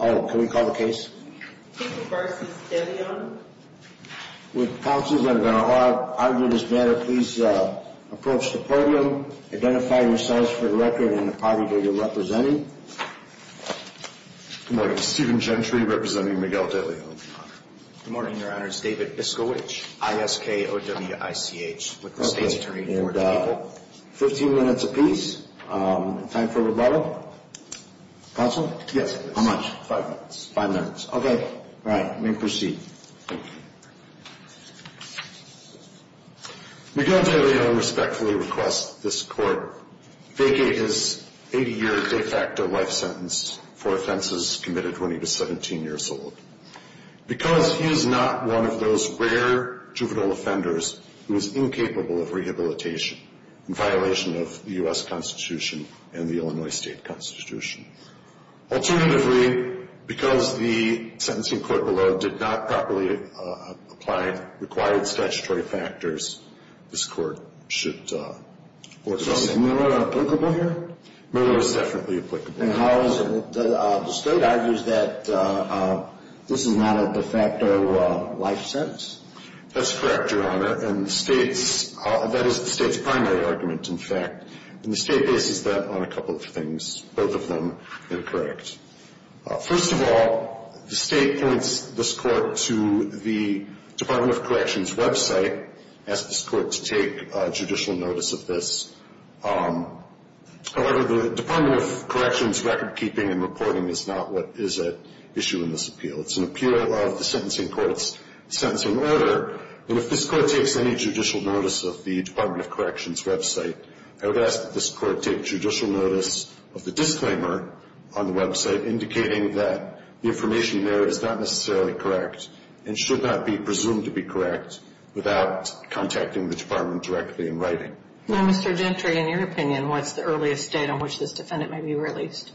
Oh, can we call the case? With pounces, I'm going to argue this matter. Please approach the podium. Identify yourselves for the record and the party that you're representing. Good morning, Stephen Gentry, representing Miguel Deleon. Good morning, Your Honors. David Biskowich, ISKOWICH with the State's Attorney for the People. 15 minutes apiece. Time for rebuttal. Counsel? Yes. How much? Five minutes. Five minutes. Okay. All right. We proceed. Miguel Deleon respectfully requests that this Court vacate his 80-year de facto life sentence for offenses committed when he was 17 years old because he is not one of those rare juvenile offenders who is incapable of rehabilitation in violation of the U.S. Constitution and the Illinois State Constitution. Alternatively, because the sentencing court below did not properly apply required statutory factors, this Court should order the same. So is Miller applicable here? Miller is definitely applicable. And how is it? The State argues that this is not a de facto life sentence? That's correct, Your Honor. And the State's, that is the State's primary argument, in fact. And the State bases that on a couple of things, both of them incorrect. First of all, the State points this Court to the Department of Corrections' website, asks this Court to take judicial notice of this. However, the Department of Corrections' recordkeeping and reporting is not what is at issue in this appeal. It's an appeal of the sentencing court's sentencing order. And if this Court takes any judicial notice of the Department of Corrections' website, I would ask that this Court take judicial notice of the disclaimer on the website indicating that the information there is not necessarily correct and should not be presumed to be correct without contacting the Department directly in writing. Now, Mr. Gentry, in your opinion, what's the earliest date on which this defendant may be released?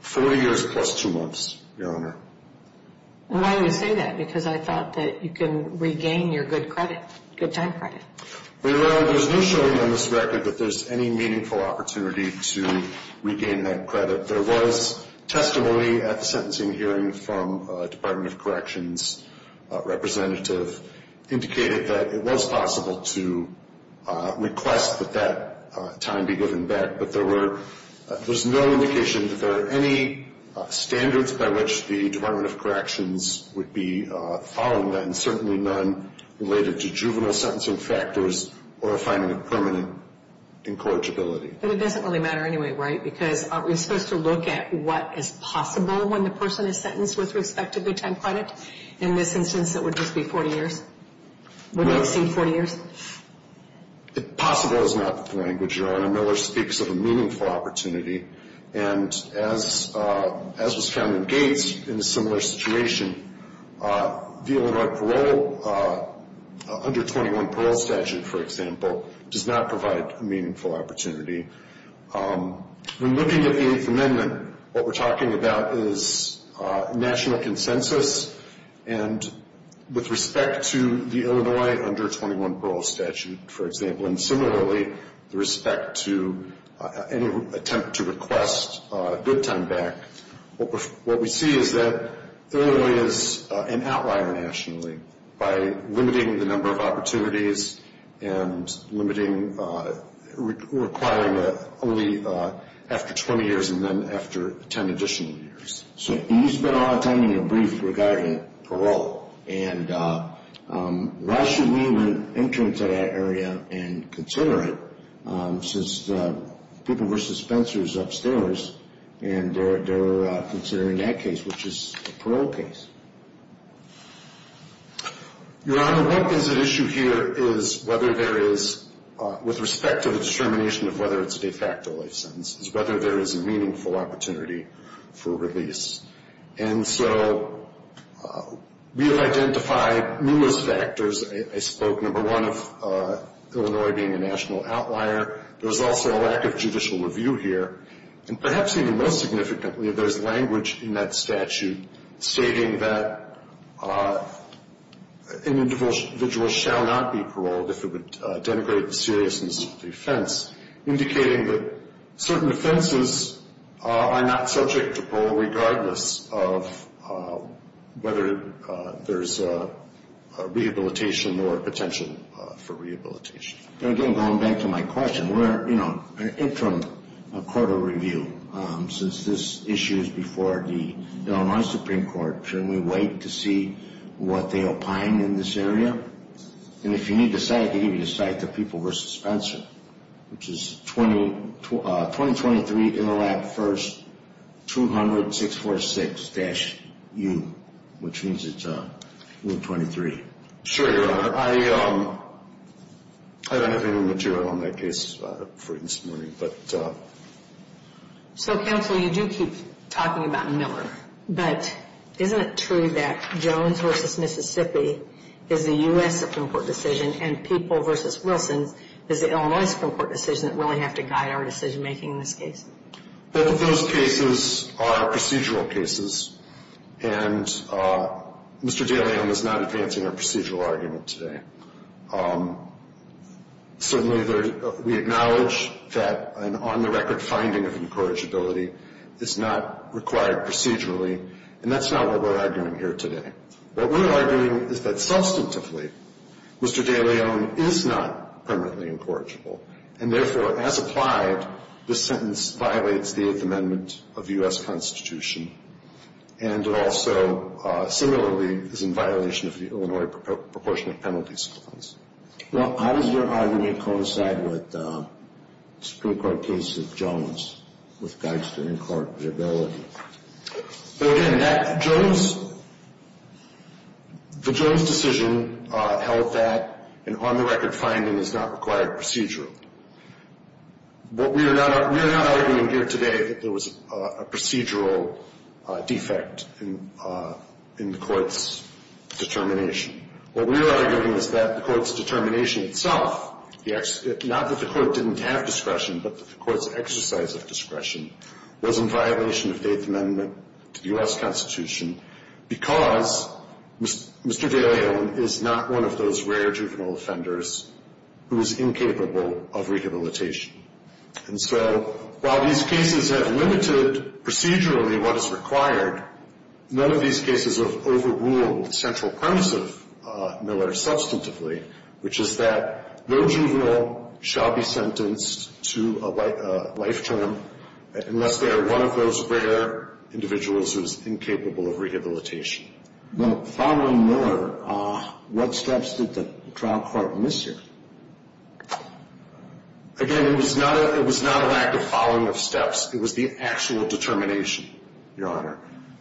40 years plus two months, Your Honor. And why do you say that? Because I thought that you can regain your good credit, good time credit. Well, Your Honor, there's no showing on this record that there's any meaningful opportunity to regain that credit. There was testimony at the sentencing hearing from a Department of Corrections representative indicated that it was possible to request that that time be given back. But there were, there's no indication that there are any standards by which the Department of Corrections would be following that, and certainly none related to juvenile sentencing factors or a finding of permanent incorrigibility. But it doesn't really matter anyway, right? Because aren't we supposed to look at what is possible when the person is sentenced with respect to good time credit? In this instance, it would just be 40 years. Wouldn't it seem 40 years? Possible is not the language, Your Honor. Miller speaks of a meaningful opportunity. And as was found in Gates, in a similar situation, the Illinois parole, under 21 parole statute, for example, does not provide a meaningful opportunity. When looking at the Eighth Amendment, what we're talking about is national consensus. And with respect to the Illinois under 21 parole statute, for example, and similarly, with respect to any attempt to request good time back, what we see is that Illinois is an outlier nationally by limiting the number of opportunities and limiting, requiring only after 20 years and then after 10 additional years. So he's been on timing a brief regarding parole. And why should we enter into that area and consider it since people were suspensors upstairs and they're considering that case, which is a parole case? Your Honor, what is at issue here is whether there is, with respect to the determination of whether it's a de facto life sentence, is whether there is a meaningful opportunity for release. And so we have identified numerous factors. I spoke, number one, of Illinois being a national outlier. There's also a lack of judicial review here. And perhaps even more significantly, there's language in that statute stating that an individual shall not be paroled if it would denigrate the seriousness of the offense, indicating that certain offenses are not subject to parole regardless of whether there's rehabilitation or potential for rehabilitation. And again, going back to my question, we're, you know, an interim court of review. Since this issue is before the Illinois Supreme Court, shouldn't we wait to see what they opine in this area? And if you need the site, I can give you the site, the people versus Spencer, which is 2023 Interlap First 200-646-U, which means it's Rule 23. Sure, Your Honor. I don't have any more material on that case for this morning, but... So, counsel, you do keep talking about Miller, but isn't it true that Jones v. Mississippi is the U.S. Supreme Court decision and People v. Wilson is the Illinois Supreme Court decision that we'll have to guide our decision-making in this case? Both of those cases are procedural cases. And Mr. DeLeon is not advancing our procedural argument today. Certainly, we acknowledge that an on-the-record finding of incorrigibility is not required procedurally, and that's not what we're arguing here today. What we're arguing is that, substantively, Mr. DeLeon is not permanently incorrigible, and therefore, as applied, this sentence violates the Eighth Amendment of the U.S. Constitution, and also, similarly, is in violation of the Illinois Proportionate Penalties Clause. Well, how does your argument coincide with the Supreme Court case of Jones with regards to incorrigibility? So, again, that Jones, the Jones decision held that an on-the-record finding is not required procedurally. What we are not arguing here today is that there was a procedural defect in the Court's determination. What we are arguing is that the Court's determination itself, not that the Court didn't have discretion, but that the Court's exercise of discretion was in violation of the Eighth Amendment to the U.S. Constitution because Mr. DeLeon is not one of those rare juvenile offenders who is incapable of rehabilitation. And so while these cases have limited procedurally what is required, none of these cases have overruled the central premise of Miller substantively, which is that no juvenile shall be sentenced to a life term unless they are one of those rare individuals who is incapable of rehabilitation. Well, following Miller, what steps did the trial court miss here? Again, it was not a lack of following of steps. It was the actual determination, Your Honor.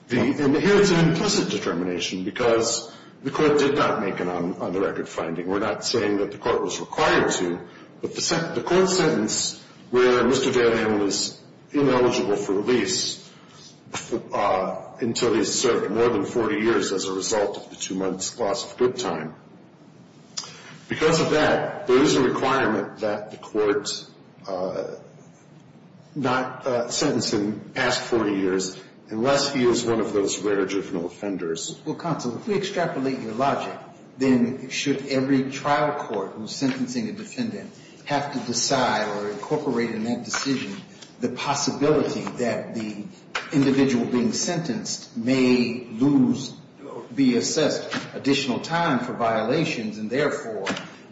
And here it's an implicit determination because the Court did not make an on-the-record finding. We're not saying that the Court was required to, but the Court sentenced where Mr. DeLeon was ineligible for release until he served more than 40 years as a result of the two months' loss of good time. Because of that, there is a requirement that the Court not sentence him past 40 years unless he is one of those rare juvenile offenders. Well, counsel, if we extrapolate your logic, then should every trial court who is sentencing a defendant have to decide or incorporate in that decision the possibility that the individual being sentenced may lose or be assessed additional time for violations and, therefore,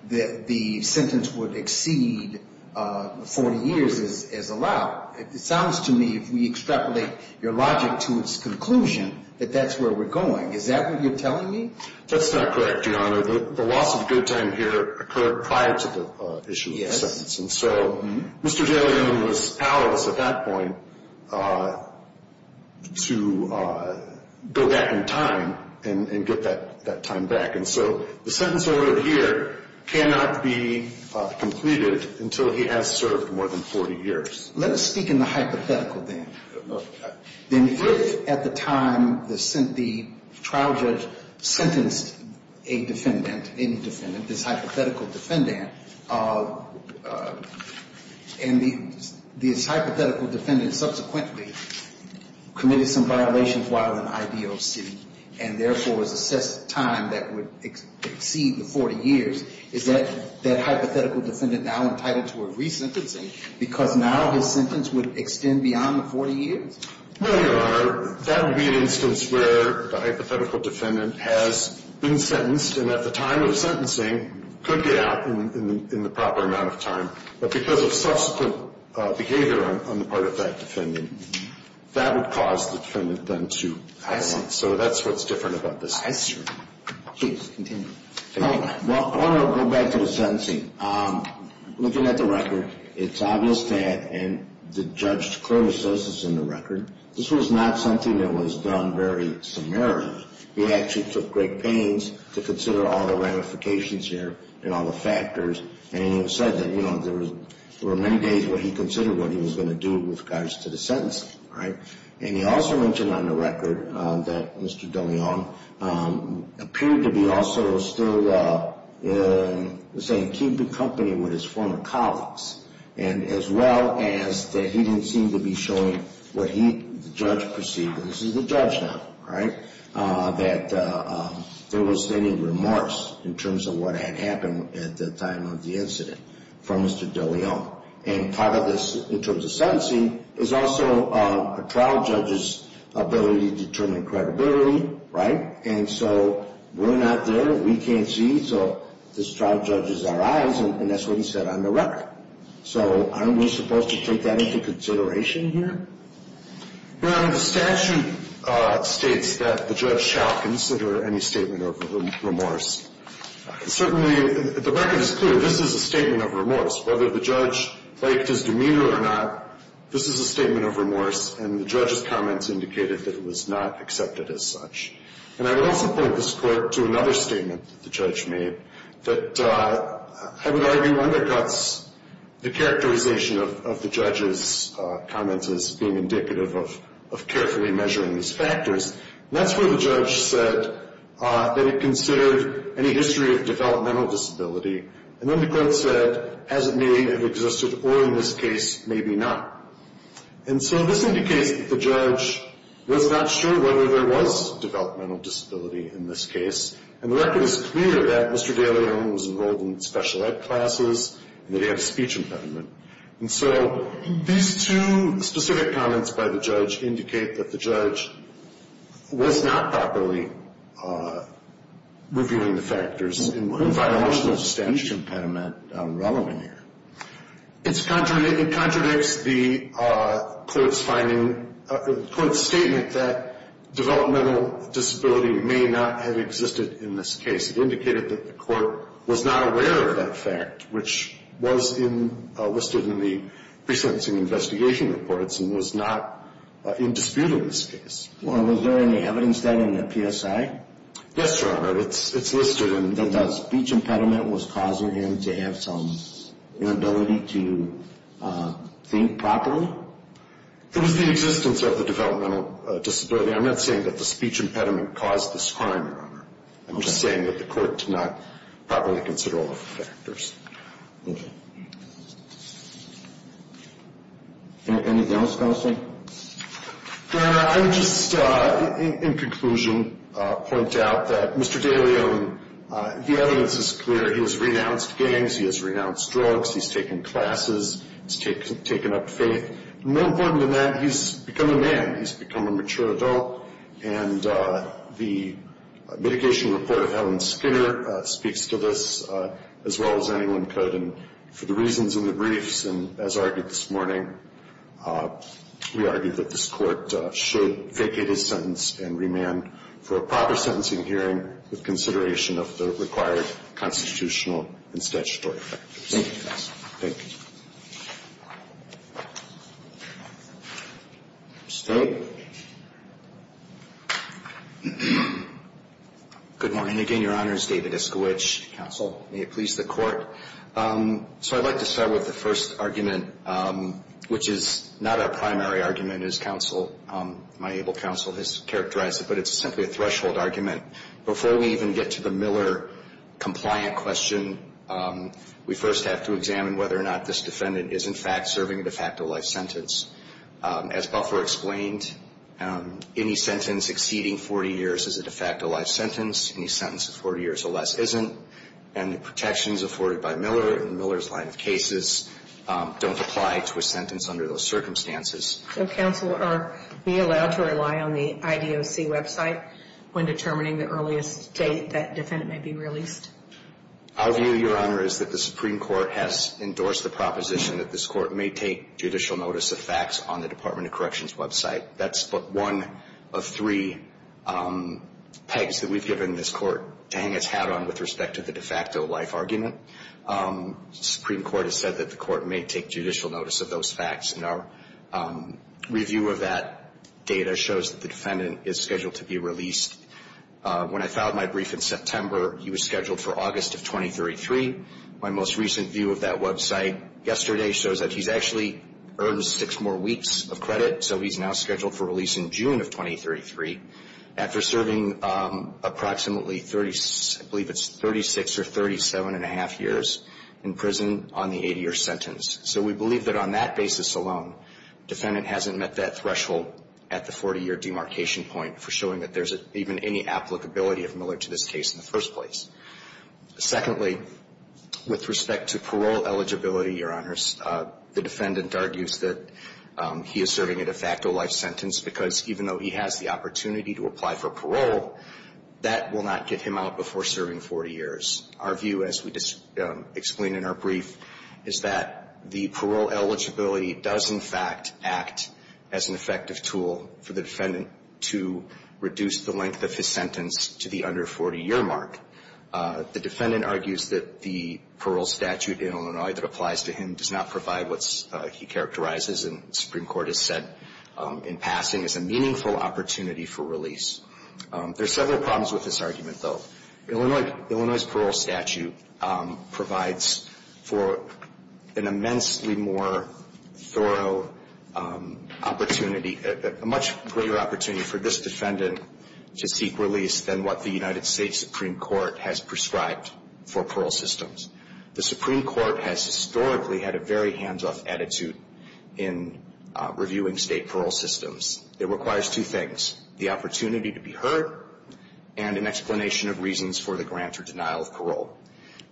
that the sentence would exceed 40 years as allowed? It sounds to me, if we extrapolate your logic to its conclusion, that that's where we're going. Is that what you're telling me? That's not correct, Your Honor. The loss of good time here occurred prior to the issue of the sentence. And so Mr. DeLeon was powerless at that point to go back in time and get that time back. And so the sentence ordered here cannot be completed until he has served more than 40 years. Let us speak in the hypothetical then. If at the time the trial judge sentenced a defendant, any defendant, this hypothetical defendant, and this hypothetical defendant subsequently committed some violations while in IDOC and, therefore, was assessed time that would exceed the 40 years, is that hypothetical defendant now entitled to a resentencing because now his sentence would extend beyond the 40 years? Well, Your Honor, that would be an instance where the hypothetical defendant has been sentenced and at the time of sentencing could get out in the proper amount of time. But because of subsequent behavior on the part of that defendant, that would cause the defendant then to pass. I see. So that's what's different about this case. I see. Please continue. Well, I want to go back to the sentencing. Looking at the record, it's obvious that the judge's criticism of the record, this was not something that was done very summarily. He actually took great pains to consider all the ramifications here and all the factors. And he said that there were many days where he considered what he was going to do with regards to the sentencing. And he also mentioned on the record that Mr. DeLeon appeared to be also still keeping company with his former colleagues, as well as that he didn't seem to be showing what he, the judge, perceived. This is the judge now, right? That there was any remorse in terms of what had happened at the time of the incident from Mr. DeLeon. And part of this, in terms of sentencing, is also a trial judge's ability to determine credibility, right? And so we're not there, we can't see, so this trial judge is our eyes, and that's what he said on the record. So aren't we supposed to take that into consideration here? Your Honor, the statute states that the judge shall consider any statement of remorse. Certainly, the record is clear, this is a statement of remorse. Whether the judge liked his demeanor or not, this is a statement of remorse, and the judge's comments indicated that it was not accepted as such. And I would also point this Court to another statement that the judge made, that I would argue undercuts the characterization of the judge's comments as being indicative of carefully measuring these factors. And that's where the judge said that he considered any history of developmental disability, and then the Court said, as it may have existed, or in this case, maybe not. And so this indicates that the judge was not sure whether there was developmental disability in this case, and the record is clear that Mr. DeLeon was involved in special ed classes and that he had a speech impediment. And so these two specific comments by the judge indicate that the judge was not properly reviewing the factors. And what is that emotional speech impediment relevant here? It contradicts the Court's finding, the Court's statement that developmental disability may not have existed in this case. It indicated that the Court was not aware of that fact, which was listed in the pre-sentencing investigation reports and was not in dispute in this case. Was there any evidence then in the PSI? Yes, Your Honor. It's listed in the PSI. That the speech impediment was causing him to have some inability to think properly? It was the existence of the developmental disability. I'm not saying that the speech impediment caused this crime, Your Honor. I'm just saying that the Court did not properly consider all the factors. Okay. Anything else, Counsel? Your Honor, I would just, in conclusion, point out that Mr. DeLeon, the evidence is clear. He has renounced gangs. He has renounced drugs. He's taken classes. He's taken up faith. More important than that, he's become a man. He's become a mature adult. And the mitigation report of Helen Skinner speaks to this as well as anyone could. And for the reasons in the briefs and as argued this morning, we argue that this Court should vacate his sentence and remand for a proper sentencing hearing with consideration of the required constitutional and statutory factors. Thank you, counsel. Thank you. Mr. Tate. Good morning again, Your Honors. David Iskowich, counsel. May it please the Court. So I'd like to start with the first argument, which is not a primary argument as counsel, my able counsel has characterized it, but it's simply a threshold argument. Before we even get to the Miller compliant question, we first have to examine whether or not this defendant is in fact serving a de facto life sentence. As Buffer explained, any sentence exceeding 40 years is a de facto life sentence. Any sentence of 40 years or less isn't. And the protections afforded by Miller in Miller's line of cases don't apply to a sentence under those circumstances. So, counsel, are we allowed to rely on the IDOC website when determining the earliest date that defendant may be released? Our view, Your Honor, is that the Supreme Court has endorsed the proposition that this Court may take judicial notice of facts on the Department of Corrections website. That's one of three pegs that we've given this Court to hang its hat on with respect to the de facto life argument. The Supreme Court has said that the Court may take judicial notice of those facts and our review of that data shows that the defendant is scheduled to be released. When I filed my brief in September, he was scheduled for August of 2033. My most recent view of that website yesterday shows that he's actually earned six more weeks of credit, so he's now scheduled for release in June of 2033 after serving approximately 36, I believe it's 36 or 37 and a half years in prison on the 80-year sentence. So we believe that on that basis alone, defendant hasn't met that threshold at the 40-year demarcation point for showing that there's even any applicability of Miller to this case in the first place. Secondly, with respect to parole eligibility, Your Honors, the defendant argues that he is serving a de facto life sentence because even though he has the opportunity to apply for parole, that will not get him out before serving 40 years. Our view, as we explain in our brief, is that the parole eligibility does, in fact, act as an effective tool for the defendant to reduce the length of his sentence to the under 40-year mark. The defendant argues that the parole statute in Illinois that applies to him does not provide what he characterizes and the Supreme Court has said in passing is a meaningful opportunity for release. There are several problems with this argument, though. Illinois' parole statute provides for an immensely more thorough opportunity, a much greater opportunity for this defendant to seek release than what the United States Supreme Court has prescribed for parole systems. The Supreme Court has historically had a very hands-off attitude in reviewing state parole systems. It requires two things, the opportunity to be heard and an explanation of reasons for the grant or denial of parole.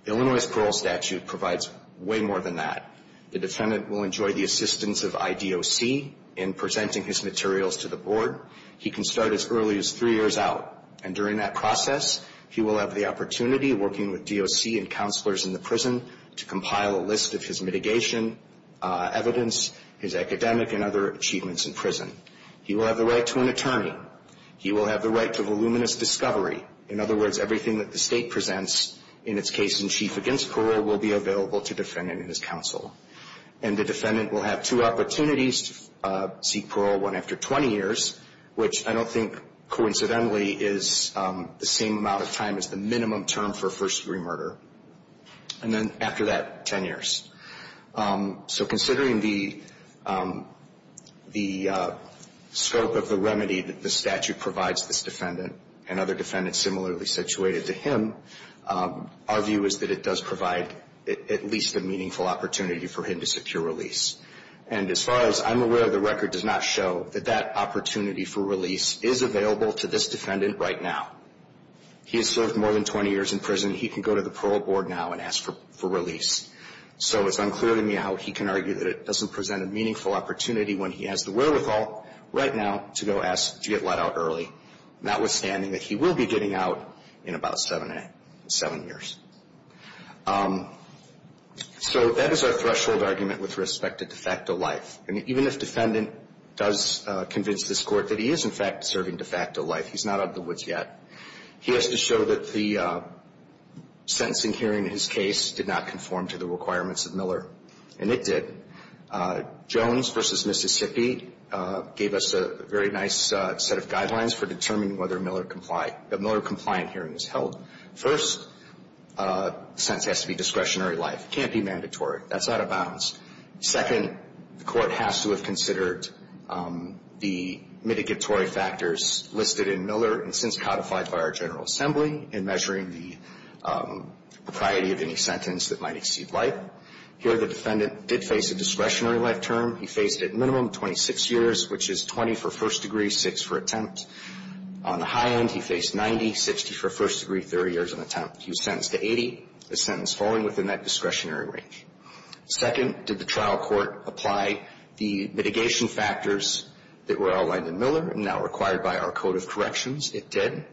Illinois' parole statute provides way more than that. The defendant will enjoy the assistance of IDOC in presenting his materials to the board. He can start as early as three years out, and during that process, he will have the opportunity, working with DOC and counselors in the prison, to compile a list of his mitigation evidence, his academic and other achievements in prison. He will have the right to an attorney. He will have the right to voluminous discovery. In other words, everything that the state presents in its case in chief against parole will be available to the defendant and his counsel. And the defendant will have two opportunities to seek parole, one after 20 years, which I don't think coincidentally is the same amount of time as the minimum term for a first-degree murder, and then after that, 10 years. So considering the scope of the remedy that the statute provides this defendant and other defendants similarly situated to him, our view is that it does provide at least a meaningful opportunity for him to secure release. And as far as I'm aware, the record does not show that that opportunity for release is available to this defendant right now. He has served more than 20 years in prison. He can go to the parole board now and ask for release. So it's unclear to me how he can argue that it doesn't present a meaningful opportunity when he has the wherewithal right now to go ask to get let out early, notwithstanding that he will be getting out in about seven years. So that is our threshold argument with respect to de facto life. And even if defendant does convince this court that he is, in fact, serving de facto life, he's not out of the woods yet, he has to show that the sentencing hearing in his case did not conform to the requirements of Miller. And it did. Jones v. Mississippi gave us a very nice set of guidelines for determining whether a Miller-compliant hearing is held. First, the sentence has to be discretionary life. It can't be mandatory. That's out of bounds. Second, the court has to have considered the mitigatory factors listed in Miller and since codified by our General Assembly in measuring the propriety of any sentence that might exceed life. Here the defendant did face a discretionary life term. He faced, at minimum, 26 years, which is 20 for first degree, 6 for attempt. On the high end, he faced 90, 60 for first degree, 30 years on attempt. He was sentenced to 80, a sentence falling within that discretionary range. Second, did the trial court apply the mitigation factors that were outlined in Miller and now required by our Code of Corrections? It did.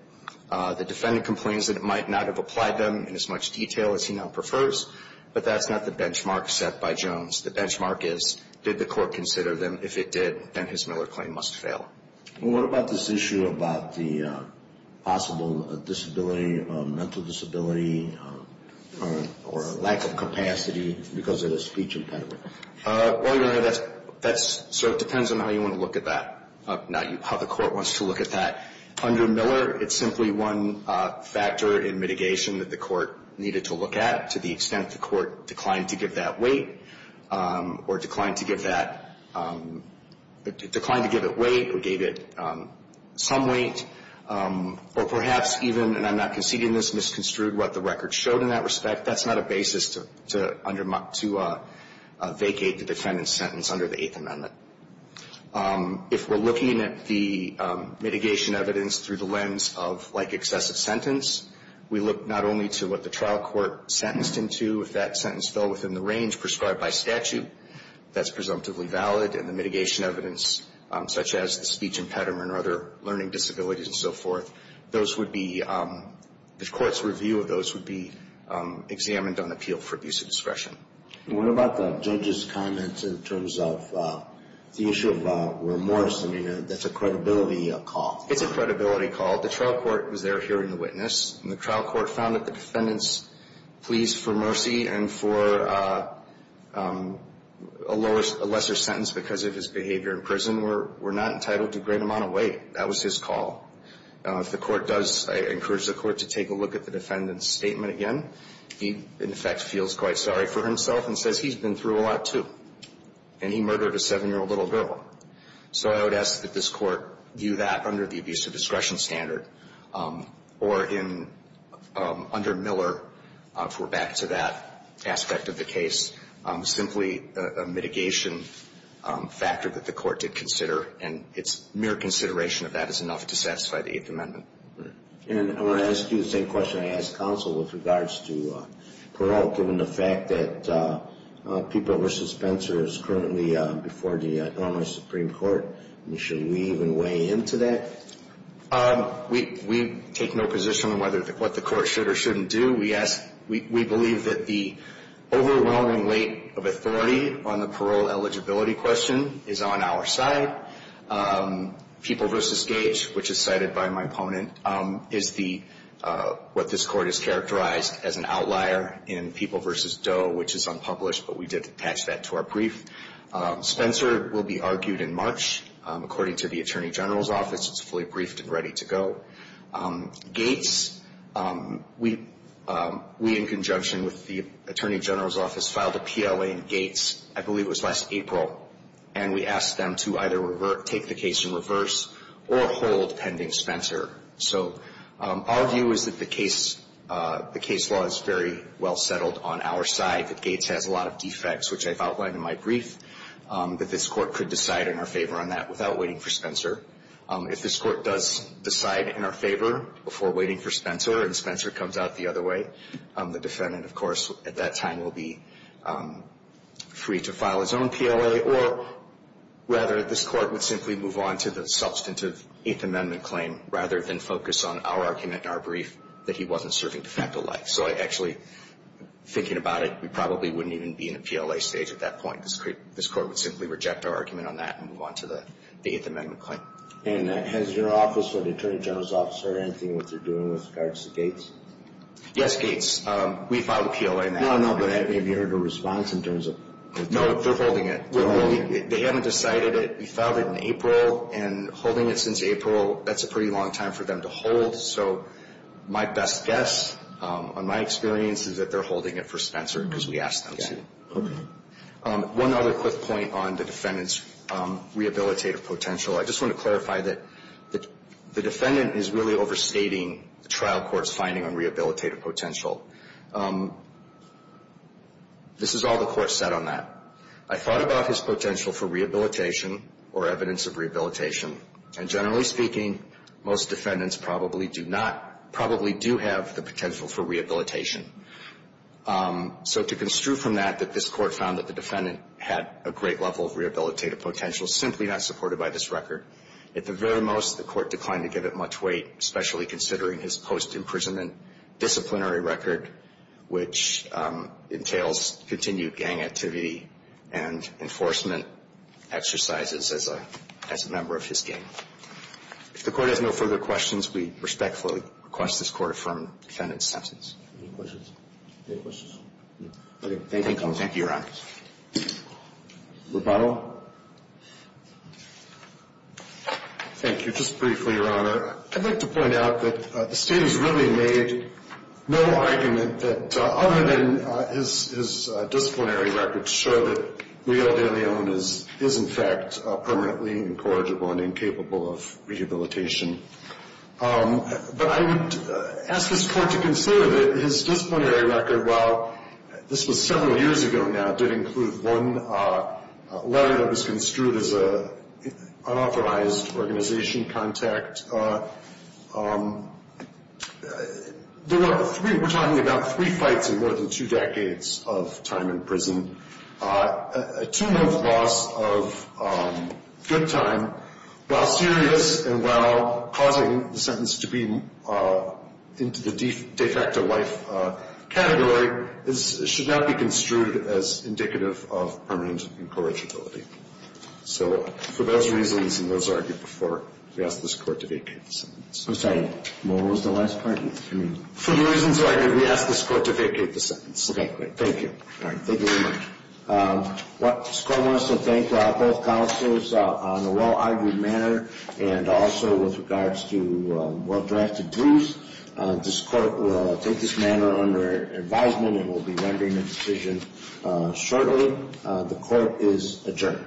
The defendant complains that it might not have applied them in as much detail as he now prefers, but that's not the benchmark set by Jones. The benchmark is, did the court consider them? If it did, then his Miller claim must fail. What about this issue about the possible disability, mental disability, or lack of capacity because of the speech impediment? Well, your Honor, that sort of depends on how you want to look at that, not how the court wants to look at that. Under Miller, it's simply one factor in mitigation that the court needed to look at to the extent the court declined to give that weight or declined to give that – declined to give it weight or gave it some weight, or perhaps even, and I'm not conceding this misconstrued what the record showed in that respect, that's not a basis to vacate the defendant's sentence under the Eighth Amendment. If we're looking at the mitigation evidence through the lens of like excessive sentence, we look not only to what the trial court sentenced him to, if that sentence fell within the range prescribed by statute, that's presumptively valid, and the mitigation evidence, such as the speech impediment or other learning disabilities and so forth, those would be – the court's review of those would be examined on appeal for abuse of discretion. What about the judge's comments in terms of the issue of remorse? I mean, that's a credibility call. It's a credibility call. The trial court was there hearing the witness, and the trial court found that the defendant's pleas for mercy and for a lesser sentence because of his behavior in prison were not entitled to a great amount of weight. That was his call. If the court does – I encourage the court to take a look at the defendant's statement again. He, in effect, feels quite sorry for himself and says he's been through a lot, too, and he murdered a 7-year-old little girl. So I would ask that this court view that under the abuse of discretion standard or in – under Miller, if we're back to that aspect of the case, simply a mitigation factor that the court did consider, and its mere consideration of that is enough to satisfy the Eighth Amendment. And I want to ask you the same question I asked counsel with regards to parole, given the fact that People v. Spencer is currently before the Illinois Supreme Court. I mean, should we even weigh in to that? We take no position on whether – what the court should or shouldn't do. We believe that the overwhelming weight of authority on the parole eligibility question is on our side. People v. Gates, which is cited by my opponent, is what this court has characterized as an outlier in People v. Doe, which is unpublished, but we did attach that to our brief. Spencer will be argued in March. According to the Attorney General's Office, it's fully briefed and ready to go. Gates – we, in conjunction with the Attorney General's Office, filed a PLA in Gates, I believe it was last April, and we asked them to either take the case in reverse or hold pending Spencer. So our view is that the case – the case law is very well settled on our side, that Gates has a lot of defects, which I've outlined in my brief, that this court could decide in our favor on that without waiting for Spencer. If this court does decide in our favor before waiting for Spencer and Spencer comes out the other way, the defendant, of course, at that time will be free to file his own PLA, or rather this court would simply move on to the substantive Eighth Amendment claim rather than focus on our argument in our brief that he wasn't serving de facto life. So I actually – thinking about it, we probably wouldn't even be in a PLA stage at that point. This court would simply reject our argument on that and move on to the Eighth Amendment claim. And has your office or the Attorney General's Office heard anything with regards to Gates? Yes, Gates. We filed a PLA. No, no, but have you heard a response in terms of – No, they're holding it. They haven't decided it. We filed it in April, and holding it since April, that's a pretty long time for them to hold. So my best guess, on my experience, is that they're holding it for Spencer because we asked them to. One other quick point on the defendant's rehabilitative potential. I just want to clarify that the defendant is really overstating the trial court's finding on rehabilitative potential. This is all the court said on that. I thought about his potential for rehabilitation or evidence of rehabilitation, and generally speaking, most defendants probably do not – probably do have the potential for rehabilitation. So to construe from that, that this court found that the defendant had a great level of rehabilitative potential, simply not supported by this record. At the very most, the court declined to give it much weight, especially considering his post-imprisonment disciplinary record, which entails continued gang activity and enforcement exercises as a member of his gang. If the court has no further questions, we respectfully request this court affirm the defendant's sentence. Any questions? Any questions? Okay. Thank you, Your Honor. Rubato. Thank you. Just briefly, Your Honor, I'd like to point out that the state has really made no argument that, other than his disciplinary records show that Leal de Leon is, in fact, permanently incorrigible and incapable of rehabilitation. But I would ask this court to consider that his disciplinary record, while this was several years ago now, did include one letter that was construed as an unauthorized organization contact. There were three – we're talking about three fights in more than two decades of time in prison, a two-month loss of good time, while serious and while causing the sentence to be into the de facto life category, should not be construed as indicative of permanent incorrigibility. So for those reasons and those argued before, we ask this court to vacate the sentence. I'm sorry. What was the last part? For the reasons argued, we ask this court to vacate the sentence. Okay. Great. Thank you. Thank you very much. This court wants to thank both counsels on a well-argued manner and also with regards to well-drafted briefs. This court will take this matter under advisement and will be rendering a decision shortly. The court is adjourned.